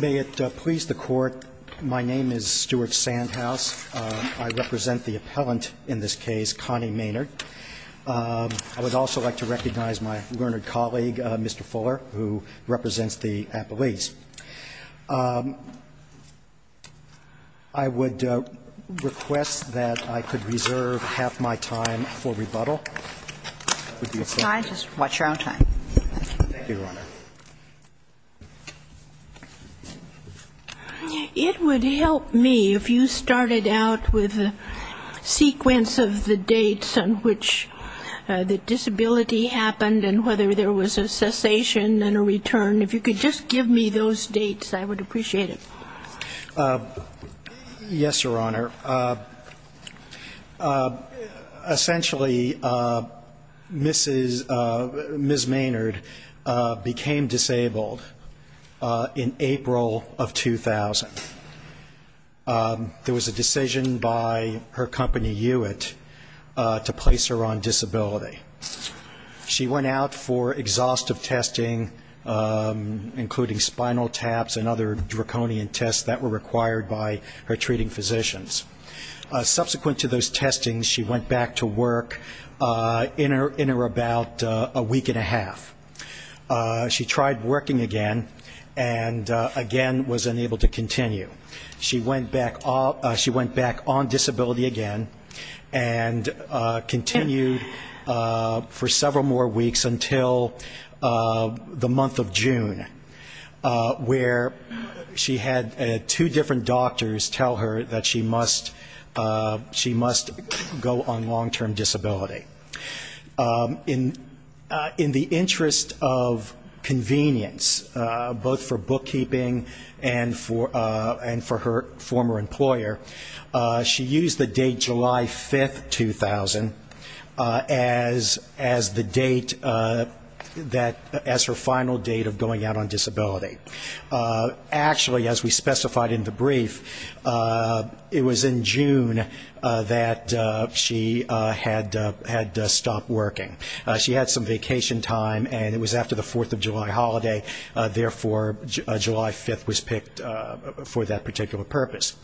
May it please the Court, my name is Stewart Sandhouse. I represent the appellant in this case, Connie Maynard. I would also like to recognize my learned colleague, Mr. Fuller, who represents the appellees. I would request that I could reserve half my time for rebuttal. It would help me if you started out with a sequence of the dates on which the disability happened and whether there was a cessation and a return. If you could just give me those dates, I would appreciate it. Yes, Your Honor. Essentially, Mrs. Maynard became disabled in April of 2000. There was a decision by her company, Hewitt, to place her on disability. She went out for exhaustive testing, including spinal taps and other draconian tests. Subsequent to those testings, she went back to work in or about a week and a half. She tried working again, and again was unable to continue. She went back on disability again and continued for several more weeks until the month of June, where she had a two different doctors tell her that she must go on long-term disability. In the interest of convenience, both for bookkeeping and for her former employer, she used the date July 5, 2000, as the date, as her final date of going out on disability. Actually, as we specified in the brief, it was in June that she had stopped working. She had some vacation time, and it was after the Fourth of July holiday. Therefore, July 5 was picked for that particular purpose.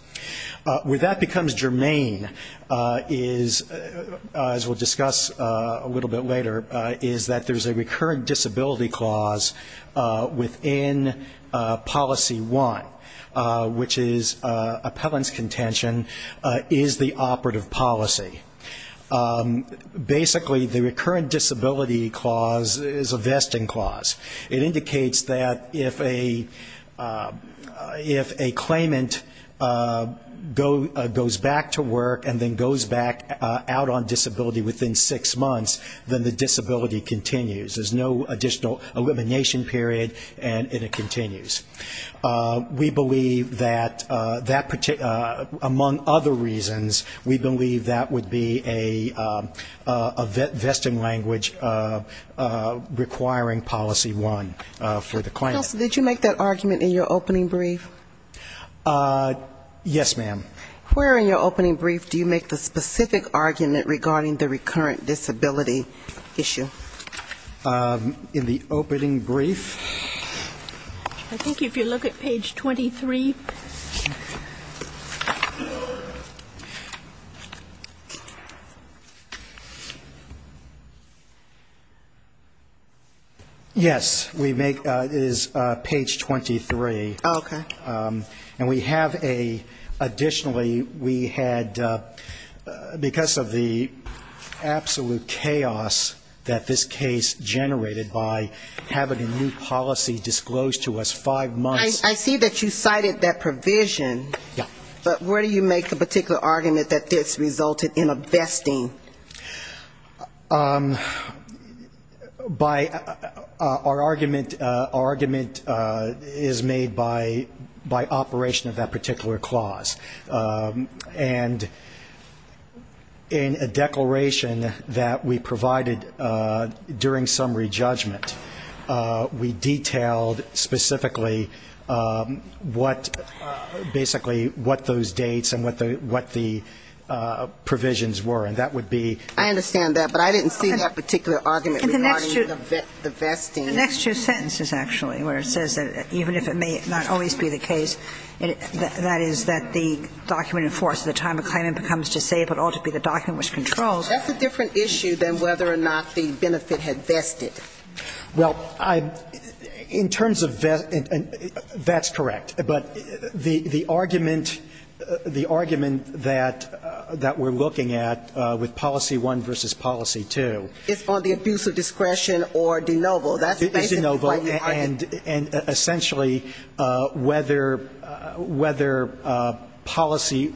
Where that becomes germane, as we'll discuss a little bit later, is that there's a recurrent disability clause within Policy 1, which is appellant's contention is the operative policy. Basically, the recurrent disability clause is a vesting clause. It indicates that if a claimant goes back to work and then goes back out on disability within six months, then the disability continues. There's no additional elimination period, and it continues. We believe that, among other reasons, we believe that would be a vesting language requiring Policy 1 for the claimant. Did you make that argument in your opening brief? Yes, ma'am. Where in your opening brief do you make the specific argument regarding the recurrent disability issue? In the opening brief? I think if you look at page 23. Yes, we make, it is page 23. Okay. And we have a, additionally, we had, because of the absolute chaos that this case generated by having a new policy disclosed to us five months. I see that you cited that provision. Yeah. But where do you make the particular argument that this resulted in a vesting? By our argument, our argument is made by operation of that particular clause. And in a declaration that we provided during summary judgment, we detailed specifically what, basically, what those dates and what the provisions were, and that would be the basis for our argument. I understand that, but I didn't see that particular argument regarding the vesting. In the next two sentences, actually, where it says that even if it may not always be the case, that is, that the document enforced at the time a claimant becomes disabled ought to be the document which controls. That's a different issue than whether or not the benefit had vested. Well, I, in terms of, that's correct. But the argument, the argument that we're looking at with Policy 1 versus Policy 2. It's on the abuse of discretion or de novo. It is de novo. And, essentially, whether Policy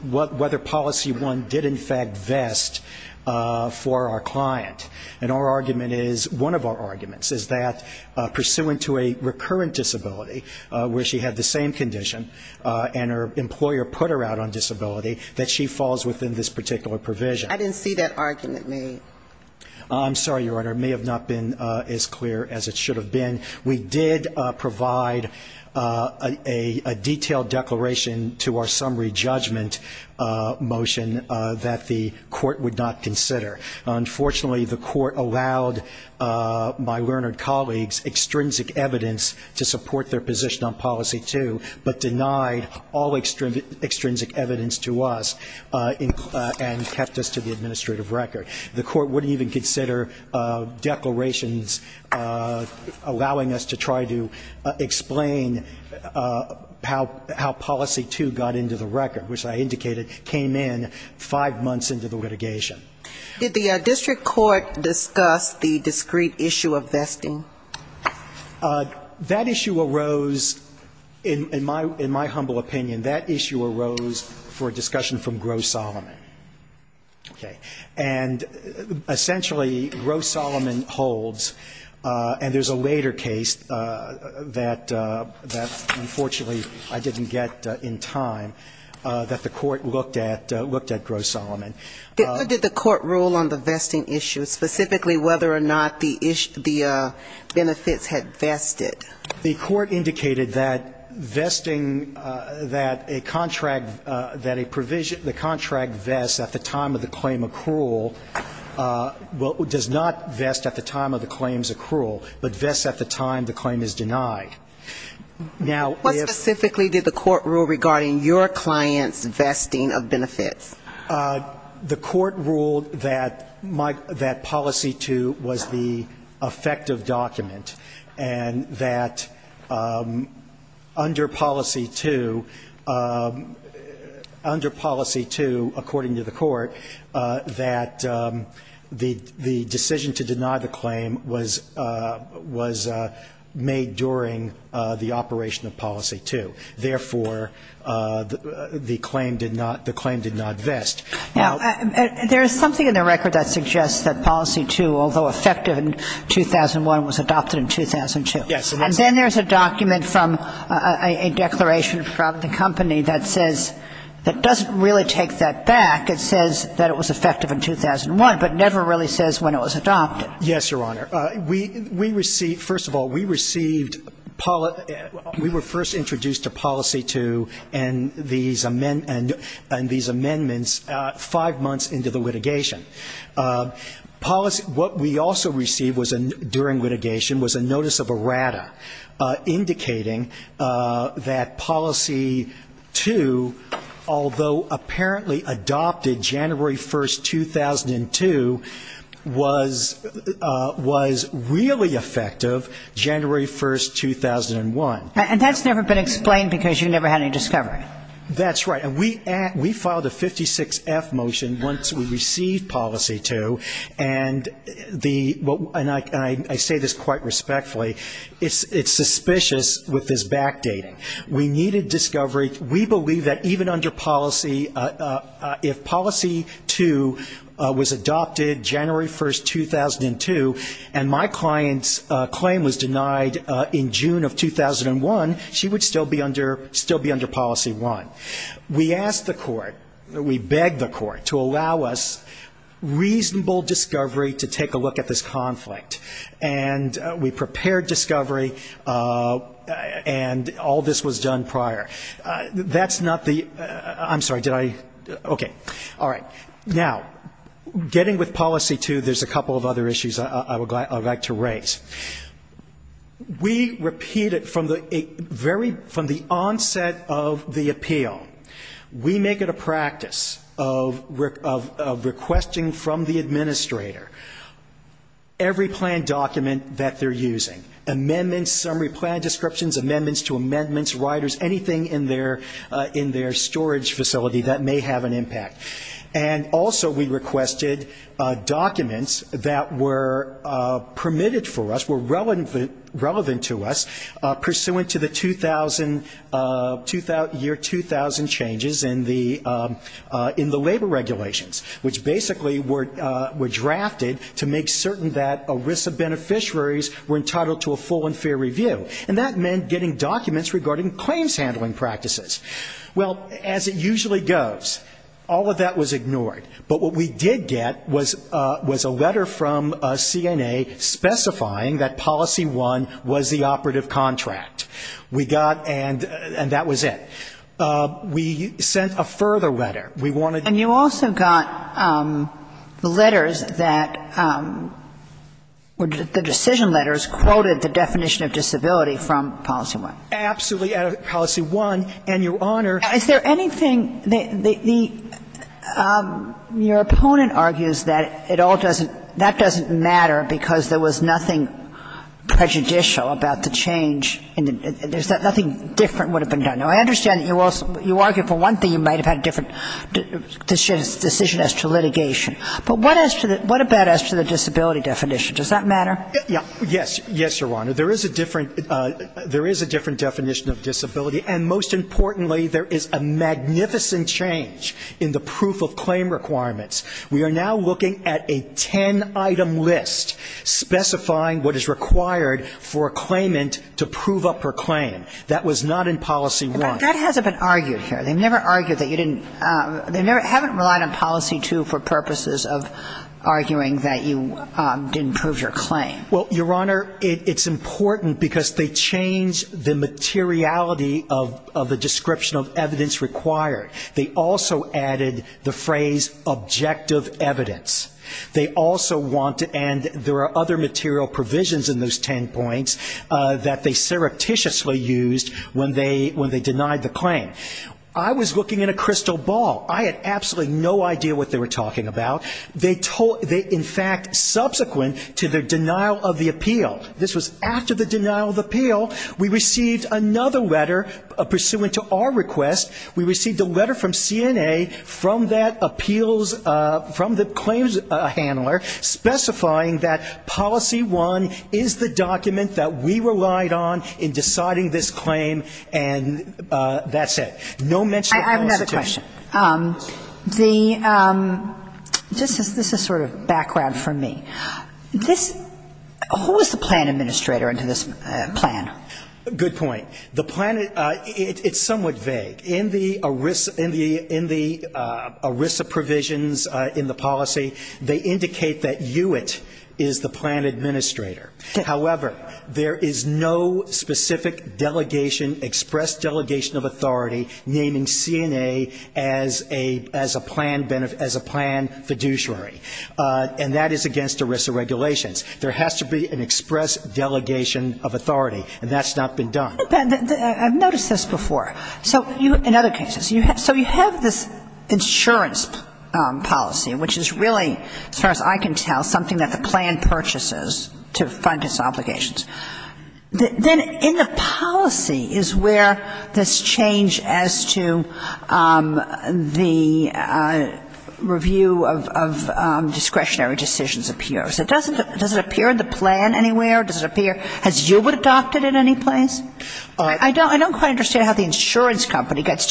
1 did, in fact, vest for our client. And our argument is, one of our arguments is that, pursuant to a recurrent disability where she had the same condition and her employer put her out on disability, that she falls within this particular provision. I didn't see that argument made. I'm sorry, Your Honor. It may have not been as clear as it should have been. We did provide a detailed declaration to our summary judgment motion that the court would not consider. Unfortunately, the court allowed my learned colleagues extrinsic evidence to support their position. They were in opposition on Policy 2, but denied all extrinsic evidence to us and kept us to the administrative record. The court wouldn't even consider declarations allowing us to try to explain how Policy 2 got into the record, which I indicated came in five months into the litigation. Did the district court discuss the discrete issue of vesting? That issue arose, in my humble opinion, that issue arose for a discussion from Gros-Solomon. Okay. And, essentially, Gros-Solomon holds, and there's a later case that, unfortunately, I didn't get in time, that the court looked at Gros-Solomon. Did the court rule on the vesting issue, specifically whether or not the benefits had vested? The court indicated that vesting, that a contract, that a provision, the contract vests at the time of the claim accrual, well, does not vest at the time of the claim's accrual, but vests at the time the claim is denied. What specifically did the court rule regarding your client's vesting of benefits? The court ruled that Policy 2 was the effective document, and that under Policy 2, under Policy 2, according to the court, that the decision to deny the claim was made during the operation of Policy 2. Therefore, the claim did not vest. Now, there is something in the record that suggests that Policy 2, although effective in 2001, was adopted in 2002. Yes. And then there's a document from a declaration from the company that says, that doesn't really take that back. I think it says that it was effective in 2001, but never really says when it was adopted. Yes, Your Honor. We received, first of all, we received, we were first introduced to Policy 2 and these amendments five months into the litigation. Policy, what we also received during litigation was a notice of errata indicating that Policy 2, although apparently adopted January 1, 2002, was, was really effective January 1, 2001. And that's never been explained because you never had any discovery. That's right. And we filed a 56-F motion once we received Policy 2, and the, and I say this quite respectfully, it's, it's suspicious with this backdating. We needed discovery. We believe that even under Policy, if Policy 2 was adopted January 1, 2002, and my client's claim was denied in June of 2001, she would still be under, still be under Policy 1. We asked the court, we begged the court to allow us reasonable discovery to take a look at this conflict. And we prepared discovery, and all this was done prior. That's not the, I'm sorry, did I, okay. All right. Now, getting with Policy 2, there's a couple of other issues I would like to raise. We repeated from the very, from the onset of the appeal, we make it a practice of requesting from the administrator every planned document that they're using. Amendments, summary plan descriptions, amendments to amendments, riders, anything in their, in their storage facility that may have an impact. And also we requested documents that were permitted for us, were relevant, relevant to us, pursuant to the 2000, year 2000 changes in the, in the labor regulations, which basically were, were drafted in January 1, 2002. And we requested to make certain that ERISA beneficiaries were entitled to a full and fair review. And that meant getting documents regarding claims handling practices. Well, as it usually goes, all of that was ignored. But what we did get was, was a letter from CNA specifying that Policy 1 was the operative contract. We got, and that was it. We sent a further letter. We wanted... And you also got letters that, the decision letters quoted the definition of disability from Policy 1. Absolutely, out of Policy 1. And, Your Honor... Is there anything, the, the, your opponent argues that it all doesn't, that doesn't matter because there was nothing prejudicial about the change in the, there's nothing different would have been done. Now, I understand that you also, you argue for one thing, you might have had a different decision as to litigation. But what as to the, what about as to the disability definition? Does that matter? Yes. Yes, Your Honor. There is a different, there is a different definition of disability. And most importantly, there is a magnificent change in the proof of claim requirements. We are now looking at a ten-item list specifying what is required for a claimant to prove up her claim. That was not in Policy 1. But that hasn't been argued here. They never argued that you didn't, they never, haven't relied on Policy 2 for purposes of arguing that you didn't prove your claim. Well, Your Honor, it, it's important because they changed the materiality of, of the description of evidence required. They also added the phrase, objective evidence. They also want to, and there are other material provisions in those ten points that they surreptitiously used when they, when they denied the claim. I was looking at a crystal ball. I had absolutely no idea what they were talking about. They told, they in fact, subsequent to their denial of the appeal, this was after the denial of the appeal, we received another letter pursuant to our request. We received a letter from CNA from that appeals, from the claims handler specifying that Policy 1 is the document that we relied on in deciding this claim, and that's it. No mention of Policy 2. I have another question. The, this is sort of background for me. This, who was the plan administrator under this plan? Good point. The plan, it, it's somewhat vague. In the ERISA, in the, in the ERISA provisions in the policy, they indicate that Hewitt is the plan administrator. However, there is no specific delegation, express delegation of authority naming CNA as a, as a plan beneficiary, as a plan fiduciary, and that is against ERISA regulations. There has to be an express delegation of authority, and that's not been done. But I've noticed this before. So you, in other cases, you have, so you have this insurance policy, which is really, as far as I can tell, something that the plan purchases to fund its obligations. Then in the policy is where this change as to the review of, of discretionary decisions appears. Does it appear in the plan anywhere? Does it appear, has Hewitt adopted it in any place? I don't quite understand how the insurance company gets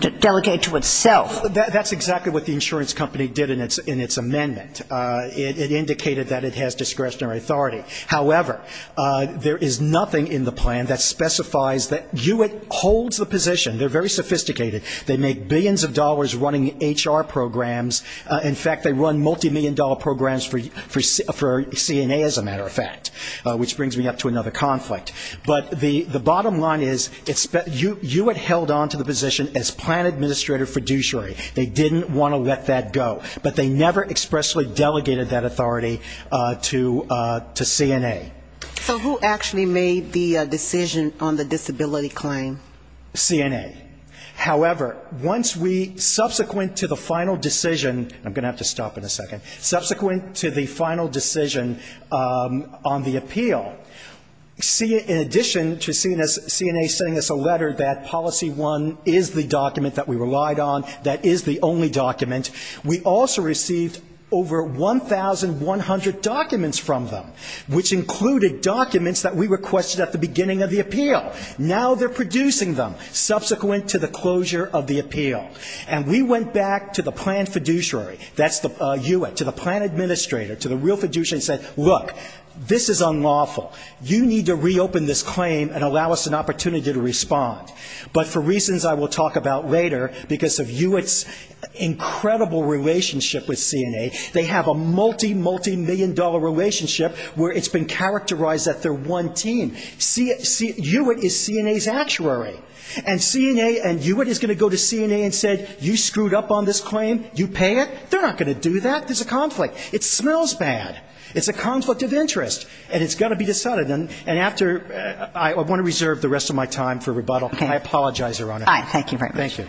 to delegate to itself. That's exactly what the insurance company did in its amendment. It indicated that it has discretionary authority. However, there is nothing in the plan that specifies that Hewitt holds the position. They're very sophisticated. They make billions of dollars running HR programs. In fact, they run multimillion-dollar programs for CNA, as a matter of fact, which brings me up to another conflict. But the bottom line is Hewitt held on to the position as plan administrator fiduciary. They didn't want to let that go. But they never expressly delegated that authority to CNA. So who actually made the decision on the disability claim? CNA. However, once we, subsequent to the final decision, I'm going to have to stop in a second. Subsequent to the final decision on the appeal, CNA, in addition to CNA sending us a letter that policy one is the document that we relied on, that is the only document, we also received over 1,100 documents from them, which included documents that we requested at the beginning of the appeal. Now they're producing them, subsequent to the closure of the appeal. And we went back to the plan fiduciary, that's Hewitt, to the plan administrator, to the real fiduciary and said, look, this is unlawful. You need to reopen this claim and allow us an opportunity to respond. But for reasons I will talk about later, because of Hewitt's incredible relationship with CNA, they have a multimillion-dollar relationship where it's been characterized as their one team. Hewitt is CNA's actuary. And CNA and Hewitt is going to go to CNA and say you screwed up on this claim, you pay it. They're not going to do that. There's a conflict. It smells bad. It's a conflict of interest. And it's got to be decided. And after ‑‑ I want to reserve the rest of my time for rebuttal. I apologize, Your Honor. All right. Thank you very much.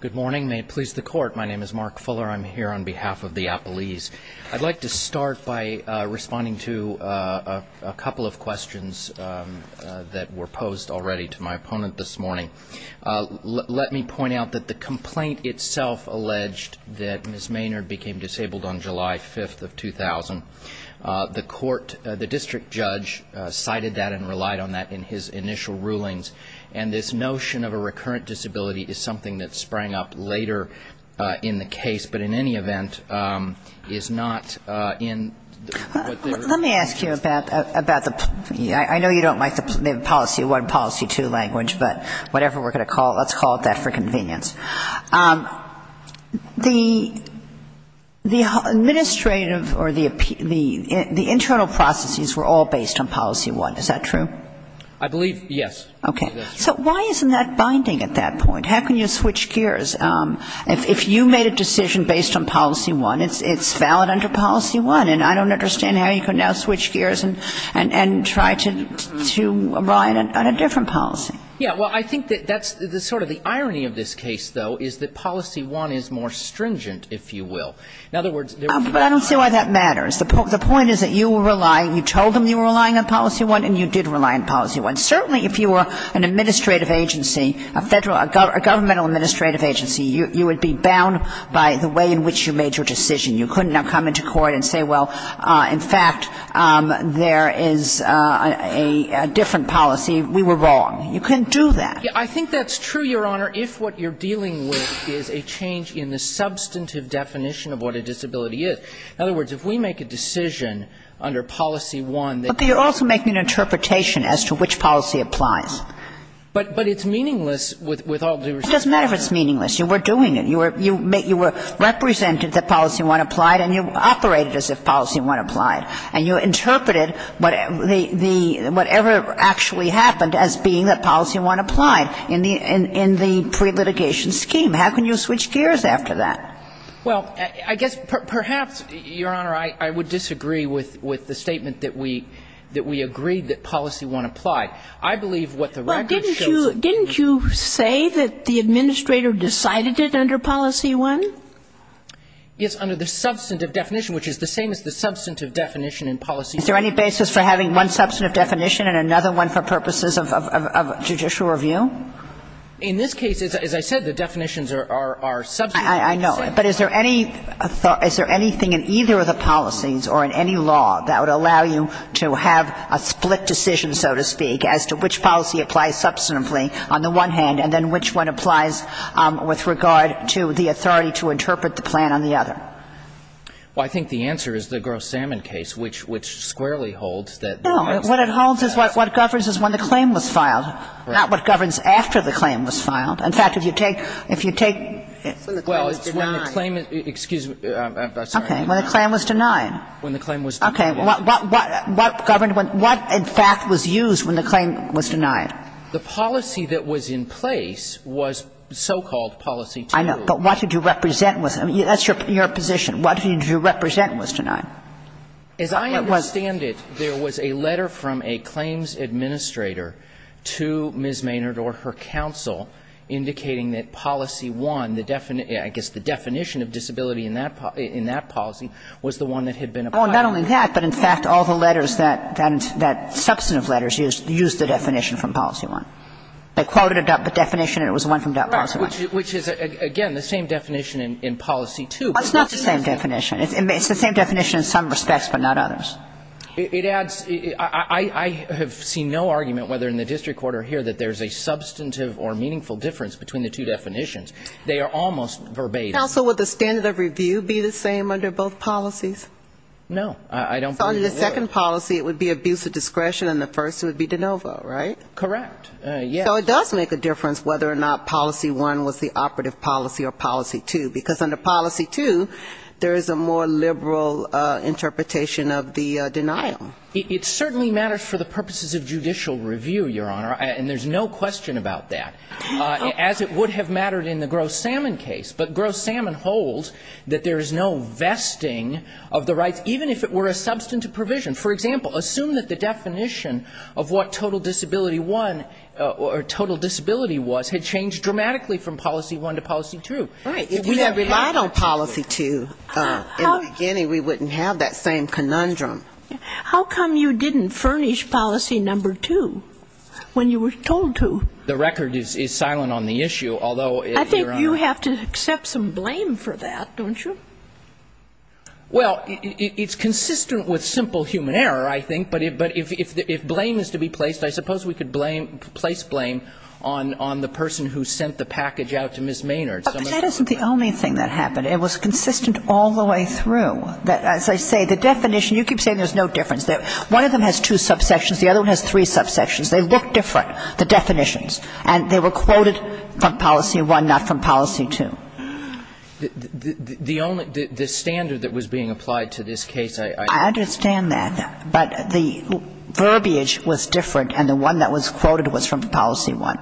Good morning. May it please the Court. My name is Mark Fuller. I'm here on behalf of the appellees. I'd like to start by responding to a couple of questions that were posed already to my opponent this morning. Let me point out that the complaint itself alleged that Ms. Maynard became disabled on July 5th of 2000. The court, the district judge cited that and relied on that in his initial rulings. And this notion of a recurrent disability is something that sprang up later in the case, but in any event is not in ‑‑ Well, let me ask you about the ‑‑ I know you don't like the policy one, policy two language, but whatever we're going to call it, let's call it that for convenience. The administrative or the internal processes were all based on policy one. Is that true? I believe, yes. Okay. So why isn't that binding at that point? How can you switch gears? If you made a decision based on policy one, and I don't understand how you can now switch gears and try to rely on a different policy. Yeah. Well, I think that that's sort of the irony of this case, though, is that policy one is more stringent, if you will. In other words ‑‑ But I don't see why that matters. The point is that you were relying, you told them you were relying on policy one and you did rely on policy one. Certainly if you were an administrative agency, a federal, a governmental administrative agency, you would be bound by the way in which you made your decision. You couldn't now come into court and say, well, in fact, there is a different policy. We were wrong. You couldn't do that. I think that's true, Your Honor, if what you're dealing with is a change in the substantive definition of what a disability is. In other words, if we make a decision under policy one that ‑‑ But you're also making an interpretation as to which policy applies. But it's meaningless with all due respect. Well, it doesn't matter if it's meaningless. You were doing it. You were represented that policy one applied and you operated as if policy one applied. And you interpreted whatever actually happened as being that policy one applied in the pre-litigation scheme. How can you switch gears after that? Well, I guess perhaps, Your Honor, I would disagree with the statement that we agreed that policy one applied. I believe what the record shows ‑‑ Didn't you say that the administrator decided it under policy one? Yes, under the substantive definition, which is the same as the substantive definition in policy one. Is there any basis for having one substantive definition and another one for purposes of judicial review? In this case, as I said, the definitions are substantive. I know. But is there any ‑‑ is there anything in either of the policies or in any law that would allow you to have a split decision, so to speak, as to which policy applies substantively on the one hand and then which one applies with regard to the authority to interpret the plan on the other? Well, I think the answer is the Gross Salmon case, which ‑‑ which squarely holds that ‑‑ No. What it holds is what ‑‑ what governs is when the claim was filed, not what governs after the claim was filed. In fact, if you take ‑‑ if you take ‑‑ Well, it's when the claim is ‑‑ excuse me. Okay. When the claim was denied. When the claim was ‑‑ Okay. What ‑‑ what governed when ‑‑ what in fact was used when the claim was denied? The policy that was in place was so-called policy two. I know. But what did you represent was ‑‑ that's your position. What did you represent was denied? As I understand it, there was a letter from a claims administrator to Ms. Maynard or her counsel indicating that policy one, the definition ‑‑ I guess the definition of disability in that policy was the one that had been applied. Well, not only that, but in fact all the letters that ‑‑ that substantive letters used, used the definition from policy one. They quoted a definition and it was the one from policy one. Right. Which is, again, the same definition in policy two. Well, it's not the same definition. It's the same definition in some respects but not others. It adds ‑‑ I have seen no argument whether in the district court or here that there's a substantive or meaningful difference between the two definitions. They are almost verbatim. Counsel, would the standard of review be the same under both policies? No. I don't believe it would. So under the second policy it would be abuse of discretion and the first would be de novo, right? Correct. Yes. So it does make a difference whether or not policy one was the operative policy or policy two, because under policy two there is a more liberal interpretation of the denial. It certainly matters for the purposes of judicial review, Your Honor, and there's no question about that, as it would have mattered in the Gross Salmon case. But Gross Salmon holds that there is no vesting of the rights, even if it were a substantive provision. For example, assume that the definition of what total disability one or total disability was had changed dramatically from policy one to policy two. Right. If we had relied on policy two in the beginning, we wouldn't have that same conundrum. How come you didn't furnish policy number two when you were told to? The record is silent on the issue, although, Your Honor. You have to accept some blame for that, don't you? Well, it's consistent with simple human error, I think. But if blame is to be placed, I suppose we could place blame on the person who sent the package out to Ms. Maynard. But that isn't the only thing that happened. It was consistent all the way through. As I say, the definition, you keep saying there's no difference. One of them has two subsections, the other one has three subsections. They look different, the definitions. And they were quoted from policy one, not from policy two. The only the standard that was being applied to this case, I understand that. But the verbiage was different, and the one that was quoted was from policy one.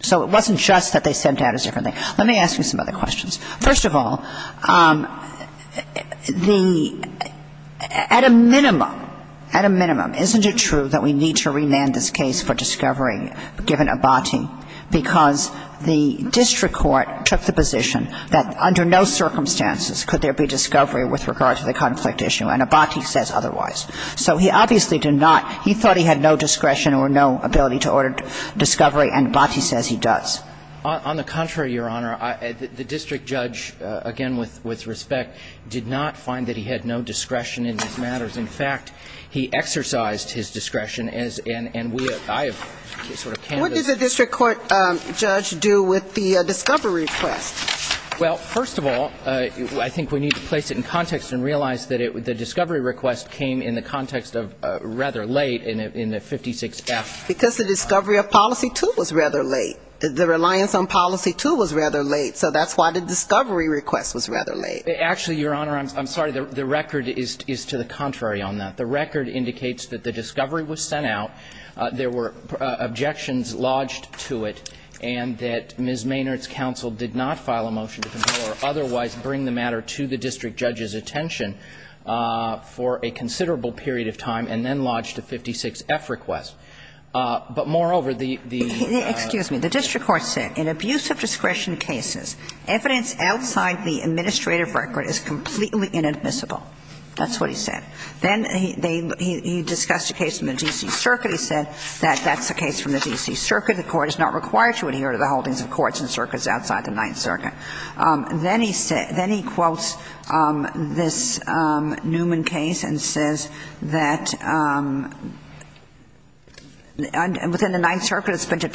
So it wasn't just that they sent out a different thing. Let me ask you some other questions. First of all, the at a minimum, at a minimum, isn't it true that we need to remand this case for discovery given Abate? Because the district court took the position that under no circumstances could there be discovery with regard to the conflict issue, and Abate says otherwise. So he obviously did not, he thought he had no discretion or no ability to order discovery, and Abate says he does. On the contrary, Your Honor, the district judge, again with respect, did not find that he had no discretion in these matters. In fact, he exercised his discretion, and we have, I have sort of canvassed this. What does the district court judge do with the discovery request? Well, first of all, I think we need to place it in context and realize that the discovery request came in the context of rather late in the 56F. Because the discovery of policy two was rather late. The reliance on policy two was rather late, so that's why the discovery request was rather late. Actually, Your Honor, I'm sorry. The record is to the contrary on that. The record indicates that the discovery was sent out, there were objections lodged to it, and that Ms. Maynard's counsel did not file a motion to control or otherwise bring the matter to the district judge's attention for a considerable period of time, and then lodged a 56F request. But moreover, the ---- Excuse me. The district court said, evidence outside the administrative record is completely inadmissible. That's what he said. Then he discussed a case from the D.C. Circuit. He said that that's a case from the D.C. Circuit. The Court is not required to adhere to the holdings of courts and circuits outside the Ninth Circuit. Then he quotes this Newman case and says that within the Ninth Circuit it's been found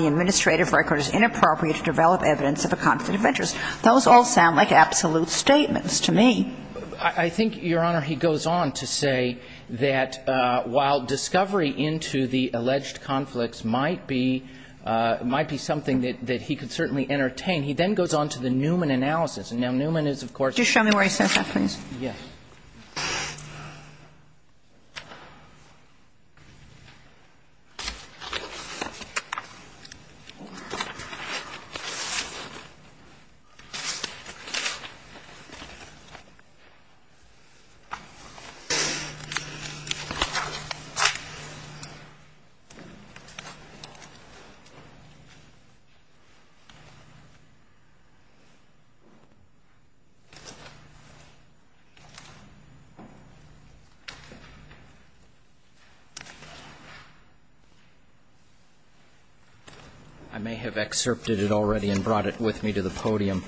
that the record is inappropriate to develop evidence of a conflict of interest. Those all sound like absolute statements to me. I think, Your Honor, he goes on to say that while discovery into the alleged conflicts might be something that he could certainly entertain, he then goes on to the Newman analysis. And now Newman is, of course ---- Just show me where he says that, please. Yes. Thank you, Your Honor. I may have excerpted it already and brought it with me to the podium.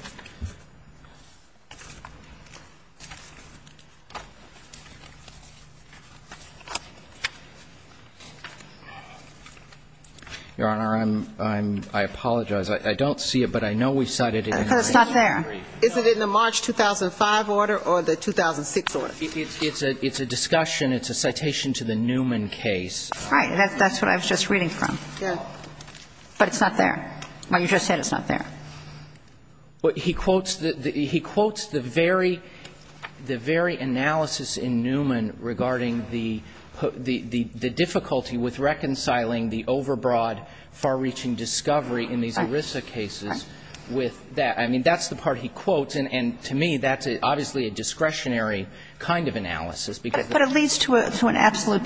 Your Honor, I'm ---- I apologize. I don't see it, but I know we cited it. It's not there. Is it in the March 2005 order or the 2006 order? It's a discussion. It's a citation to the Newman case. All right. That's what I was just reading from. Yes. But it's not there. You just said it's not there. He quotes the very analysis in Newman regarding the difficulty with reconciling the overbroad, far-reaching discovery in these ERISA cases with that. I mean, that's the part he quotes. And to me, that's obviously a discretionary kind of analysis. But it leads to an absolute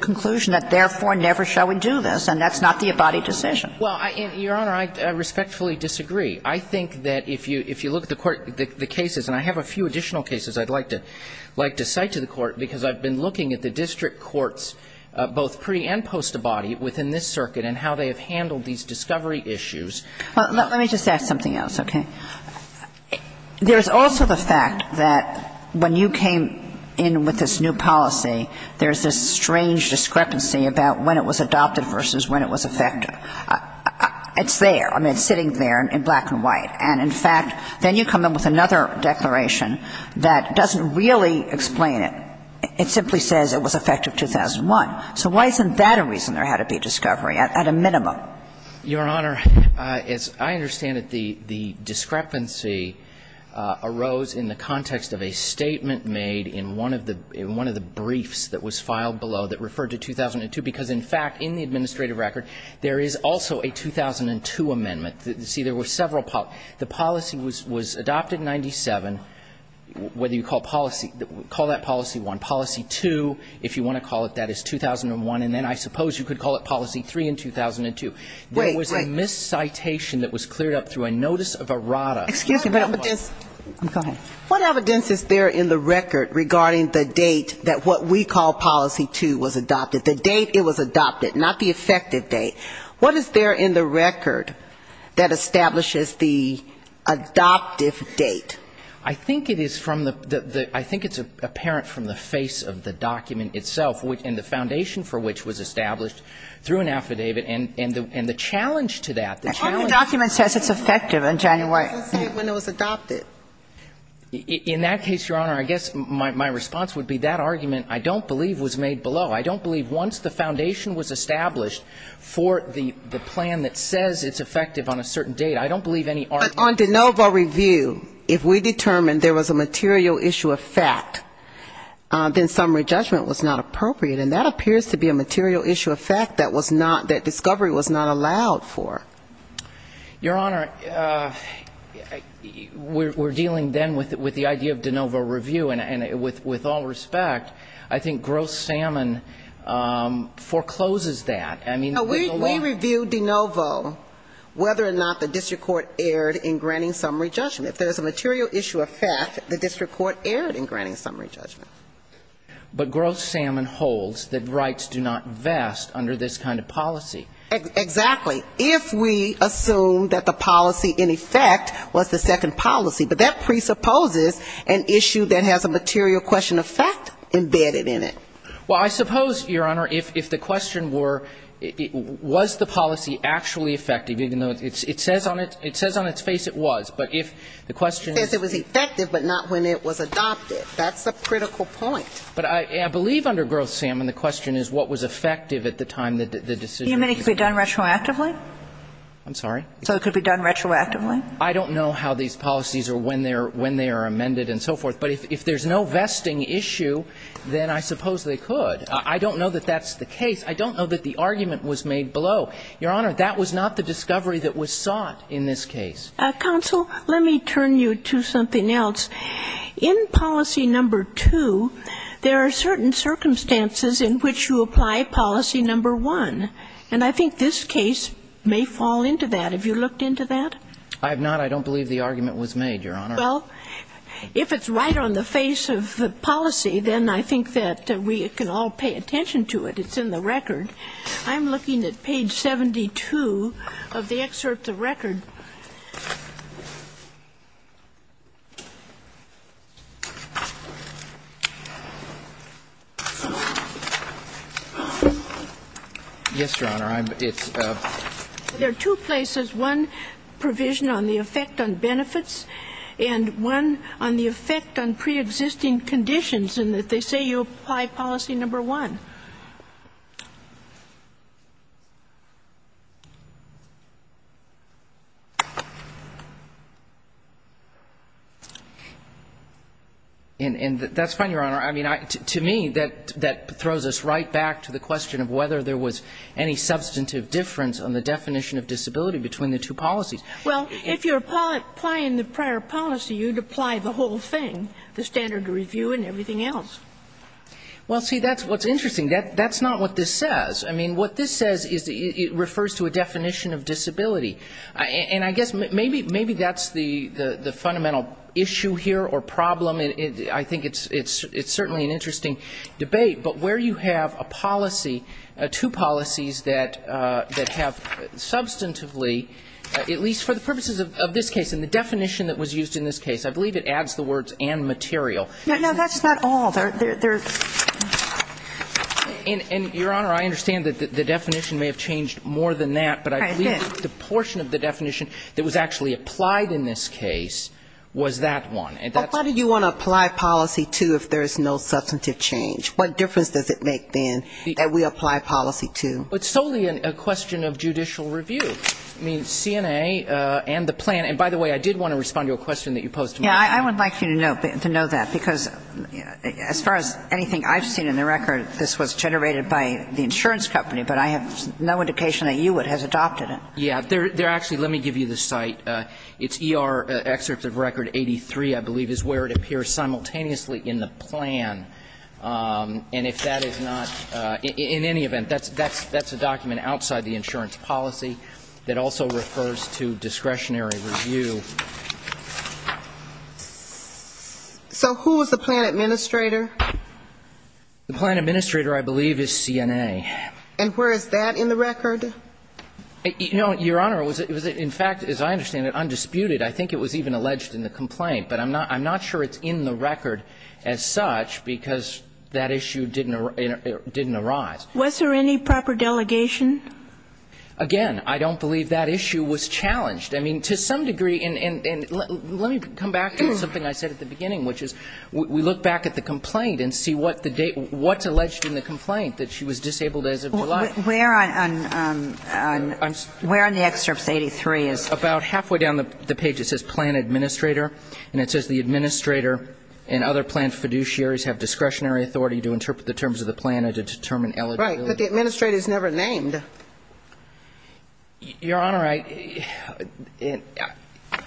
conclusion that, therefore, never shall we do this. And that's not the abodied decision. Well, Your Honor, I respectfully disagree. I think that if you look at the court, the cases, and I have a few additional cases I'd like to cite to the court, because I've been looking at the district courts, both pre- and post-abodied, within this circuit and how they have handled these discovery issues. Let me just ask something else, okay? There's also the fact that when you came in with this new policy, there's this strange discrepancy about when it was adopted versus when it was effective. It's there. I mean, it's sitting there in black and white. And, in fact, then you come in with another declaration that doesn't really explain it. It simply says it was effective 2001. So why isn't that a reason there had to be a discovery, at a minimum? Your Honor, as I understand it, the discrepancy arose in the context of a statement made in one of the briefs that was filed below that referred to 2002, because, in fact, in the administrative record, there is also a 2002 amendment. See, there were several policies. The policy was adopted in 97. Whether you call policy, call that policy 1. Policy 2, if you want to call it, that is 2001. And then I suppose you could call it policy 3 in 2002. There was a miscitation that was cleared up through a notice of errata. Excuse me. Go ahead. What evidence is there in the record regarding the date that what we call policy 2 was adopted? The date it was adopted, not the effective date. What is there in the record that establishes the adoptive date? I think it is from the ‑‑ I think it's apparent from the face of the document itself and the foundation for which was established through an affidavit. And the challenge to that, the challenge ‑‑ The document says it's effective in January. It doesn't say when it was adopted. In that case, Your Honor, I guess my response would be that argument I don't believe was made below. I don't believe once the foundation was established for the plan that says it's effective on a certain date, I don't believe any argument ‑‑ But on de novo review, if we determined there was a material issue of fact, then granting summary judgment was not appropriate. And that appears to be a material issue of fact that was not ‑‑ that discovery was not allowed for. Your Honor, we're dealing then with the idea of de novo review. And with all respect, I think gross salmon forecloses that. I mean ‑‑ We review de novo whether or not the district court erred in granting summary judgment. And if there's a material issue of fact, the district court erred in granting summary judgment. But gross salmon holds that rights do not vest under this kind of policy. Exactly. If we assume that the policy in effect was the second policy, but that presupposes an issue that has a material question of fact embedded in it. Well, I suppose, Your Honor, if the question were was the policy actually effective even though it says on its face it was. But if the question is ‑‑ It says it was effective, but not when it was adopted. That's the critical point. But I believe under gross salmon the question is what was effective at the time the decision was made. You mean it could be done retroactively? I'm sorry? So it could be done retroactively? I don't know how these policies or when they are amended and so forth. But if there's no vesting issue, then I suppose they could. I don't know that that's the case. I don't know that the argument was made below. Your Honor, that was not the discovery that was sought in this case. Counsel, let me turn you to something else. In policy number 2, there are certain circumstances in which you apply policy number 1. And I think this case may fall into that. Have you looked into that? I have not. I don't believe the argument was made, Your Honor. Well, if it's right on the face of the policy, then I think that we can all pay attention to it. It's in the record. I'm looking at page 72 of the excerpt of the record. Yes, Your Honor. It's a ---- There are two places, one provision on the effect on benefits and one on the effect on preexisting conditions in that they say you apply policy number 1. And that's fine, Your Honor. I mean, to me, that throws us right back to the question of whether there was any substantive difference on the definition of disability between the two policies. Well, if you're applying the prior policy, you'd apply the whole thing, the standard review and everything else. Well, see, that's what's interesting. That's not what this says. I mean, what this says is it refers to a definition of disability. And I guess maybe that's the fundamental issue here or problem. I think it's certainly an interesting debate. But where you have a policy, two policies that have substantively, at least for the purposes of this case and the definition that was used in this case, I believe it adds the words and material. No, that's not all. And, Your Honor, I understand that the definition may have changed more than that. But I believe the portion of the definition that was actually applied in this case was that one. But why do you want to apply policy 2 if there is no substantive change? What difference does it make, then, that we apply policy 2? It's solely a question of judicial review. I mean, CNA and the plan. And, by the way, I did want to respond to a question that you posed to me. Yeah. I would like you to know that, because as far as anything I've seen in the record, this was generated by the insurance company. But I have no indication that you would have adopted it. Yeah. There are actually, let me give you the site. It's ER excerpt of Record 83, I believe, is where it appears simultaneously in the plan. And if that is not, in any event, that's a document outside the insurance policy that also refers to discretionary review. So who was the plan administrator? The plan administrator, I believe, is CNA. And where is that in the record? You know, Your Honor, it was in fact, as I understand it, undisputed. I think it was even alleged in the complaint. But I'm not sure it's in the record as such, because that issue didn't arise. Was there any proper delegation? Again, I don't believe that issue was challenged. I mean, to some degree, and let me come back to something I said at the beginning, which is we look back at the complaint and see what's alleged in the complaint, that she was disabled as of July. Where on the excerpt 83 is? About halfway down the page it says plan administrator. And it says the administrator and other plan fiduciaries have discretionary authority to interpret the terms of the plan and to determine eligibility. Right. But the administrator is never named. Your Honor, I —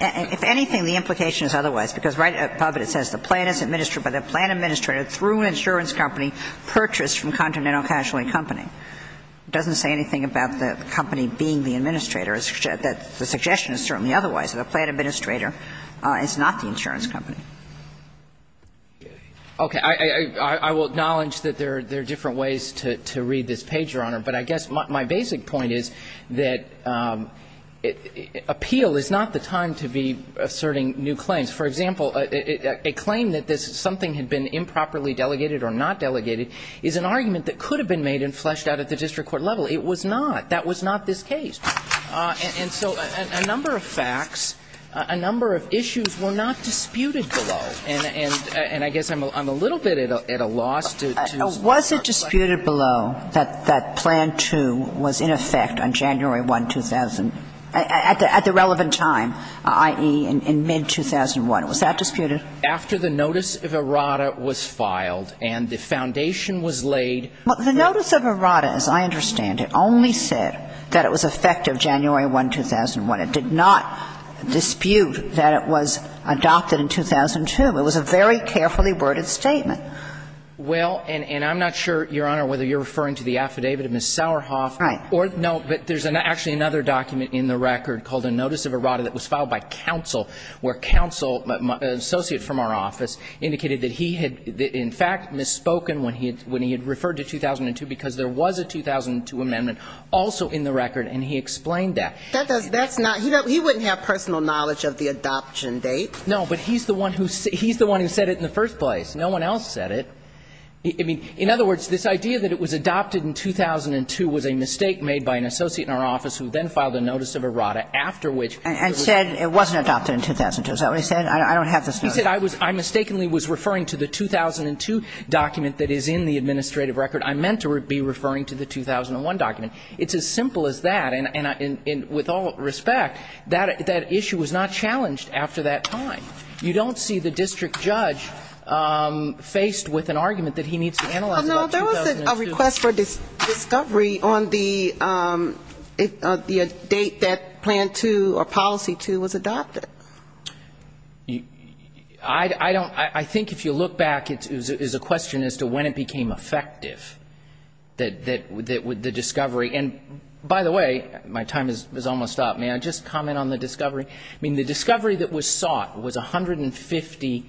If anything, the implication is otherwise. Because right above it, it says the plan is administered by the plan administrator through an insurance company purchased from Continental Casualty Company. It doesn't say anything about the company being the administrator. The suggestion is certainly otherwise. The plan administrator is not the insurance company. Okay. I will acknowledge that there are different ways to read this page, Your Honor. But I guess my basic point is that appeal is not the time to be asserting new claims. For example, a claim that something had been improperly delegated or not delegated is an argument that could have been made and fleshed out at the district court level. It was not. That was not this case. And so a number of facts, a number of issues were not disputed below. And I guess I'm a little bit at a loss to respond. Was it disputed below that Plan 2 was in effect on January 1, 2000, at the relevant time, i.e., in mid-2001? Was that disputed? After the notice of errata was filed and the foundation was laid. Well, the notice of errata, as I understand it, only said that it was effective January 1, 2001. It did not dispute that it was adopted in 2002. It was a very carefully worded statement. Well, and I'm not sure, Your Honor, whether you're referring to the affidavit of Ms. Sauerhoff. Right. No, but there's actually another document in the record called a notice of errata that was filed by counsel, where counsel, an associate from our office, indicated that he had in fact misspoken when he had referred to 2002, because there was a 2002 amendment also in the record, and he explained that. That's not – he wouldn't have personal knowledge of the adoption date. No, but he's the one who said it in the first place. No one else said it. I mean, in other words, this idea that it was adopted in 2002 was a mistake made by an associate in our office who then filed a notice of errata, after which it was adopted. And said it wasn't adopted in 2002. Is that what he said? I don't have this notice. He said I was – I mistakenly was referring to the 2002 document that is in the administrative record. I meant to be referring to the 2001 document. It's as simple as that. And with all respect, that issue was not challenged after that time. You don't see the district judge faced with an argument that he needs to analyze about 2002. Well, no, there was a request for discovery on the date that Plan 2 or Policy 2 was adopted. I don't – I think if you look back, it's a question as to when it became effective that the discovery – and by the way, my time has almost stopped. May I just comment on the discovery? I mean, the discovery that was sought was 150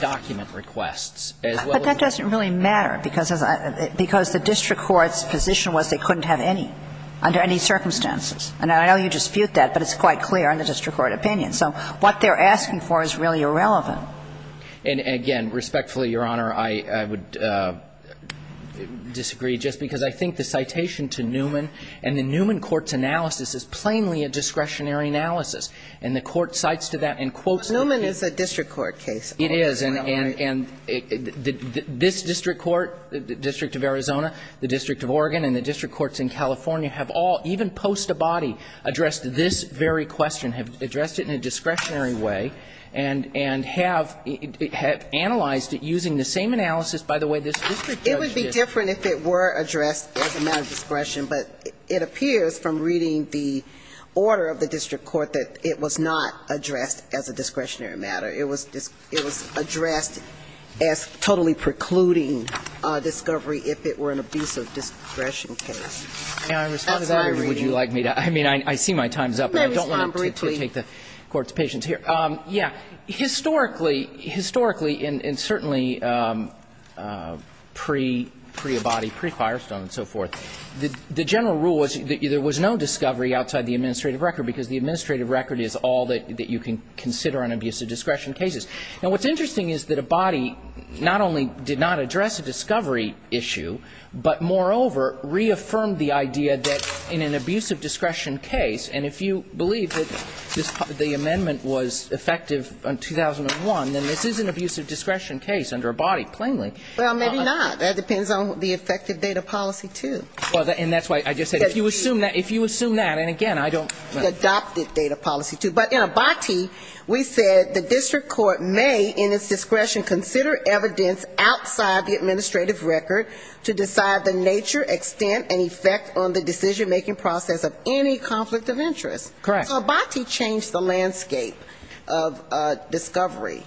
document requests, as well as the But that doesn't really matter, because the district court's position was they couldn't have any, under any circumstances. And I know you dispute that, but it's quite clear in the district court opinion. So what they're asking for is really irrelevant. And, again, respectfully, Your Honor, I would disagree, just because I think the citation to Newman and the Newman court's analysis is plainly a discretionary analysis. And the court cites to that in quotes But Newman is a district court case. It is. And this district court, the District of Arizona, the District of Oregon, and the district courts in California have all, even post-Abadi, addressed this very question, have addressed it in a discretionary way, and have analyzed it using the same analysis. By the way, this district judge just It would be different if it were addressed as a matter of discretion. But it appears from reading the order of the district court that it was not addressed as a discretionary matter. It was addressed as totally precluding discovery if it were an abusive discretion case. And I responded I'm sorry, Your Honor. Would you like me to – I mean, I see my time's up. But I don't want to take the Court's patience here. Yeah. Historically, historically, and certainly pre-Abadi, pre-Firestone and so forth, the general rule was that there was no discovery outside the administrative record, because the administrative record is all that you can consider on abusive discretion cases. Now, what's interesting is that Abadi not only did not address a discovery issue, but, moreover, reaffirmed the idea that in an abusive discretion case, and if you believe that the amendment was effective in 2001, then this is an abusive discretion case under Abadi, plainly. Well, maybe not. That depends on the effective data policy, too. And that's why I just said, if you assume that, and again, I don't The adopted data policy, too. But in Abadi, we said the district court may, in its discretion, consider evidence outside the administrative record to decide the nature, extent, and effect on the decision-making process of any conflict of interest. Correct. So Abadi changed the landscape of discovery.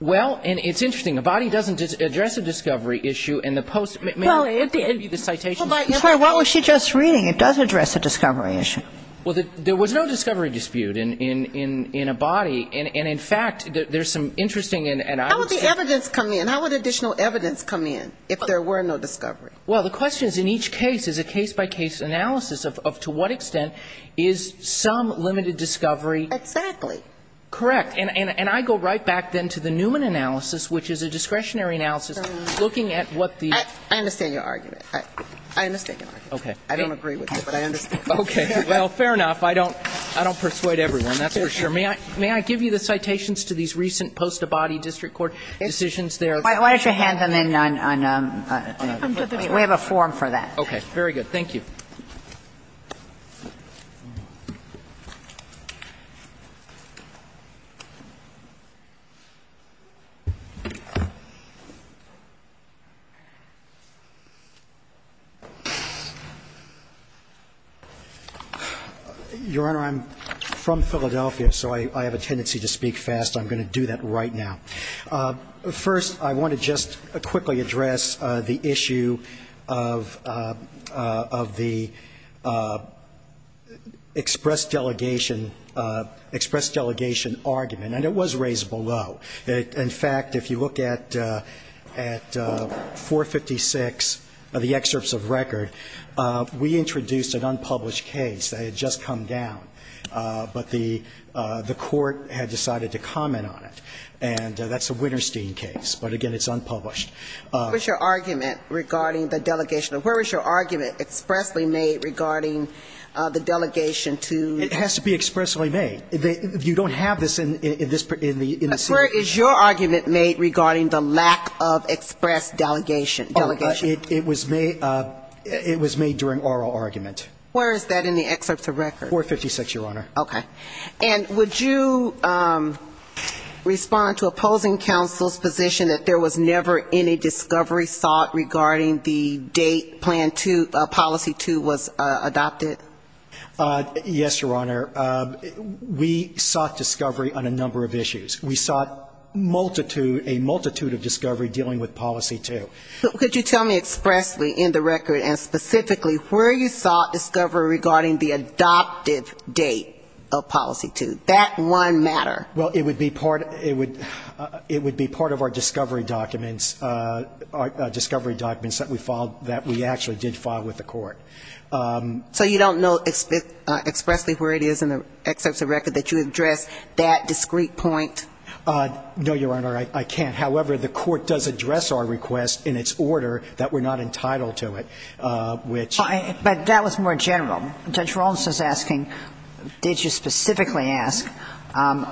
Well, and it's interesting. Abadi doesn't address a discovery issue in the post- Well, it did. In the citations. I'm sorry. What was she just reading? It does address a discovery issue. Well, there was no discovery dispute in Abadi. And, in fact, there's some interesting, and I would say How would the evidence come in? How would additional evidence come in if there were no discovery? Well, the question is, in each case, is a case-by-case analysis of to what extent is some limited discovery Exactly. Correct. And I go right back, then, to the Newman analysis, which is a discretionary analysis looking at what the I understand your argument. I understand your argument. Okay. I don't agree with you, but I understand. Okay. Well, fair enough. I don't persuade everyone. That's for sure. May I give you the citations to these recent post-Abadi district court decisions Why don't you hand them in on a We have a form for that. Okay. Very good. Thank you. Your Honor, I'm from Philadelphia, so I have a tendency to speak fast. I'm going to do that right now. First, I want to just quickly address the issue of the express delegation argument, and it was raised below. In fact, if you look at 456 of the excerpts of record, we introduced an unpublished case that had just come down, but the court had decided to comment on it. And that's a Winterstein case. But again, it's unpublished. What was your argument regarding the delegation? Where was your argument expressly made regarding the delegation to It has to be expressly made. If you don't have this in the Where is your argument made regarding the lack of express delegation? It was made during oral argument. Where is that in the excerpts of record? 456, Your Honor. Okay. And would you respond to opposing counsel's position that there was never any discovery sought regarding the date Plan 2, Policy 2 was adopted? Yes, Your Honor. We sought discovery on a number of issues. We sought a multitude of discovery dealing with Policy 2. Could you tell me expressly in the record and specifically where you sought discovery regarding the adoptive date of Policy 2? That one matter. Well, it would be part of our discovery documents that we actually did file with the court. So you don't know expressly where it is in the excerpts of record that you addressed that discrete point? No, Your Honor, I can't. However, the court does address our request in its order that we're not entitled to it, which But that was more general. Judge Rawlinson is asking, did you specifically ask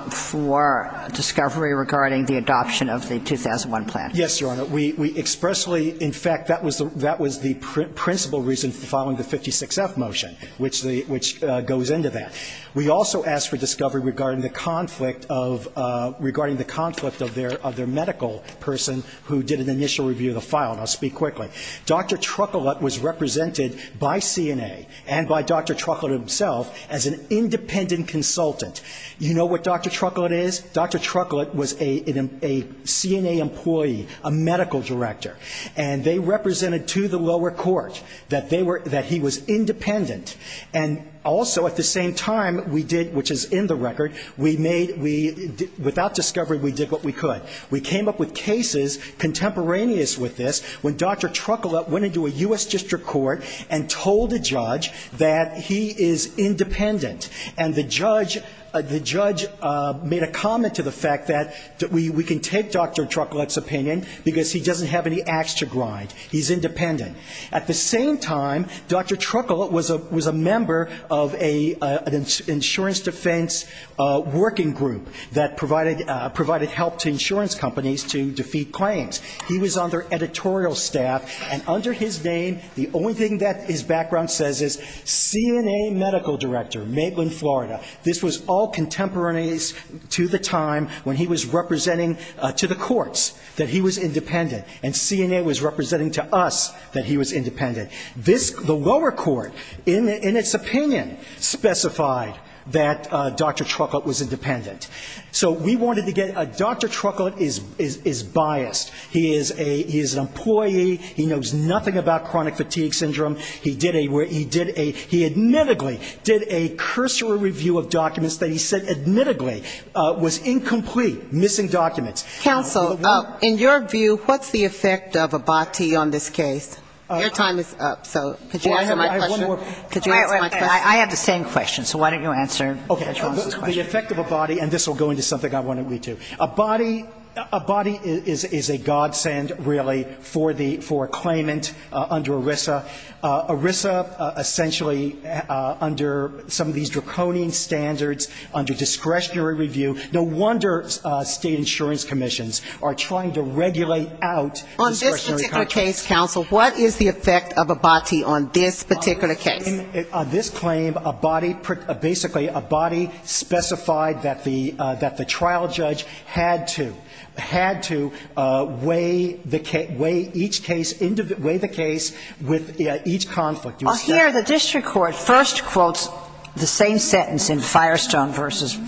for discovery regarding the adoption of the 2001 plan? Yes, Your Honor. We expressly, in fact, that was the principal reason for filing the 56-F motion, which goes into that. We also asked for discovery regarding the conflict of their medical person who did an initial review of the file, and I'll speak quickly. Dr. Truckellett was represented by CNA and by Dr. Truckellett himself as an independent consultant. You know what Dr. Truckellett is? Dr. Truckellett was a CNA employee, a medical director. And they represented to the lower court that they were he was independent. And also at the same time, we did, which is in the record, we made, without discovery, we did what we could. We came up with cases contemporaneous with this when Dr. Truckellett went into a U.S. District Court and told a judge that he is independent. And the judge made a comment to the fact that we can take Dr. Truckellett's opinion because he doesn't have any ax to grind. He's independent. At the same time, Dr. Truckellett was a member of an insurance defense working group that provided help to insurance companies to defeat claims. He was on their editorial staff. And under his name, the only thing that his background says is CNA medical director, Maitland, Florida. This was all contemporaneous to the time when he was representing to the courts that he was independent, and CNA was representing to us that he was independent. This, the lower court, in its opinion, specified that Dr. Truckellett was independent. So we wanted to get, Dr. Truckellett is biased. He is an employee. He knows nothing about chronic fatigue syndrome. He did a, he admittedly did a cursory review of documents that he said admittedly was incomplete, missing documents. Counsel, in your view, what's the effect of Abati on this case? Your time is up, so could you answer my question? I have one more. Could you answer my question? I have the same question, so why don't you answer Judge Wong's question? Okay. The effect of Abati, and this will go into something I want to read to you. Abati, Abati is a godsend, really, for the, for a claimant under ERISA. ERISA essentially, under some of these draconian standards, under discretionary review, no wonder state insurance commissions are trying to regulate out discretionary contracts. On this particular case, counsel, what is the effect of Abati on this particular case? On this claim, Abati, basically, Abati specified that the, that the trial judge had to, had to weigh the case, weigh each case, weigh the case with each conflict. Well, here the district court first quotes the same sentence in Firestone v.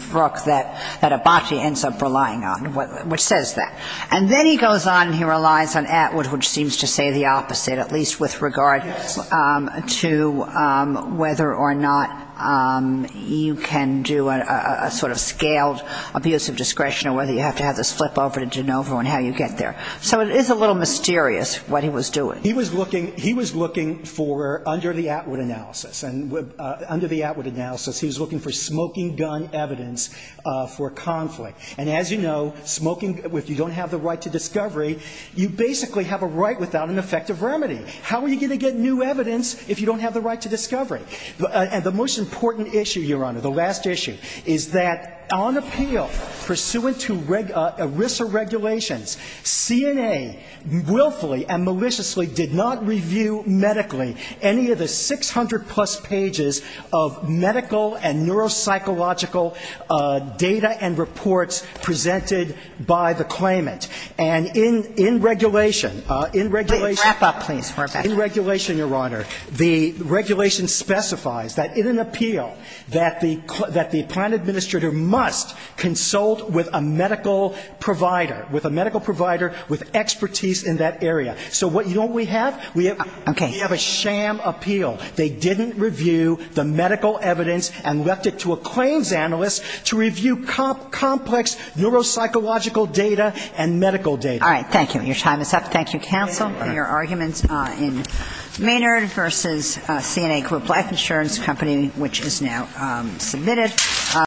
Brooke that, that Abati ends up relying on, which says that. And then he goes on and he relies on Atwood, which seems to say the opposite, at least with regard to whether or not you can do a, a sort of scaled abusive discretion or whether you have to have this flip over to De Novo and how you get there. So it is a little mysterious what he was doing. He was looking, he was looking for, under the Atwood analysis, under the Atwood analysis, he was looking for smoking gun evidence for conflict. And as you know, smoking, if you don't have the right to discovery, you basically have a right without an effective remedy. How are you going to get new evidence if you don't have the right to discovery? And the most important issue, Your Honor, the last issue, is that on appeal, pursuant to ERISA regulations, CNA willfully and maliciously did not review medically any of the 600-plus pages of medical and neuropsychological data and reports presented by the claimant. And in, in regulation, in regulation, in regulation, Your Honor, the regulation specifies that in an appeal that the, that the plan administrator must consult with a medical provider, with a medical provider with expertise in that area. So what, you know what we have? We have a sham appeal. They didn't review the medical evidence and left it to a claims analyst to review complex neuropsychological data and medical data. All right. Thank you. Your time is up. Thank you, counsel, for your arguments in Maynard v. CNA Group Life Insurance Company, which is now submitted.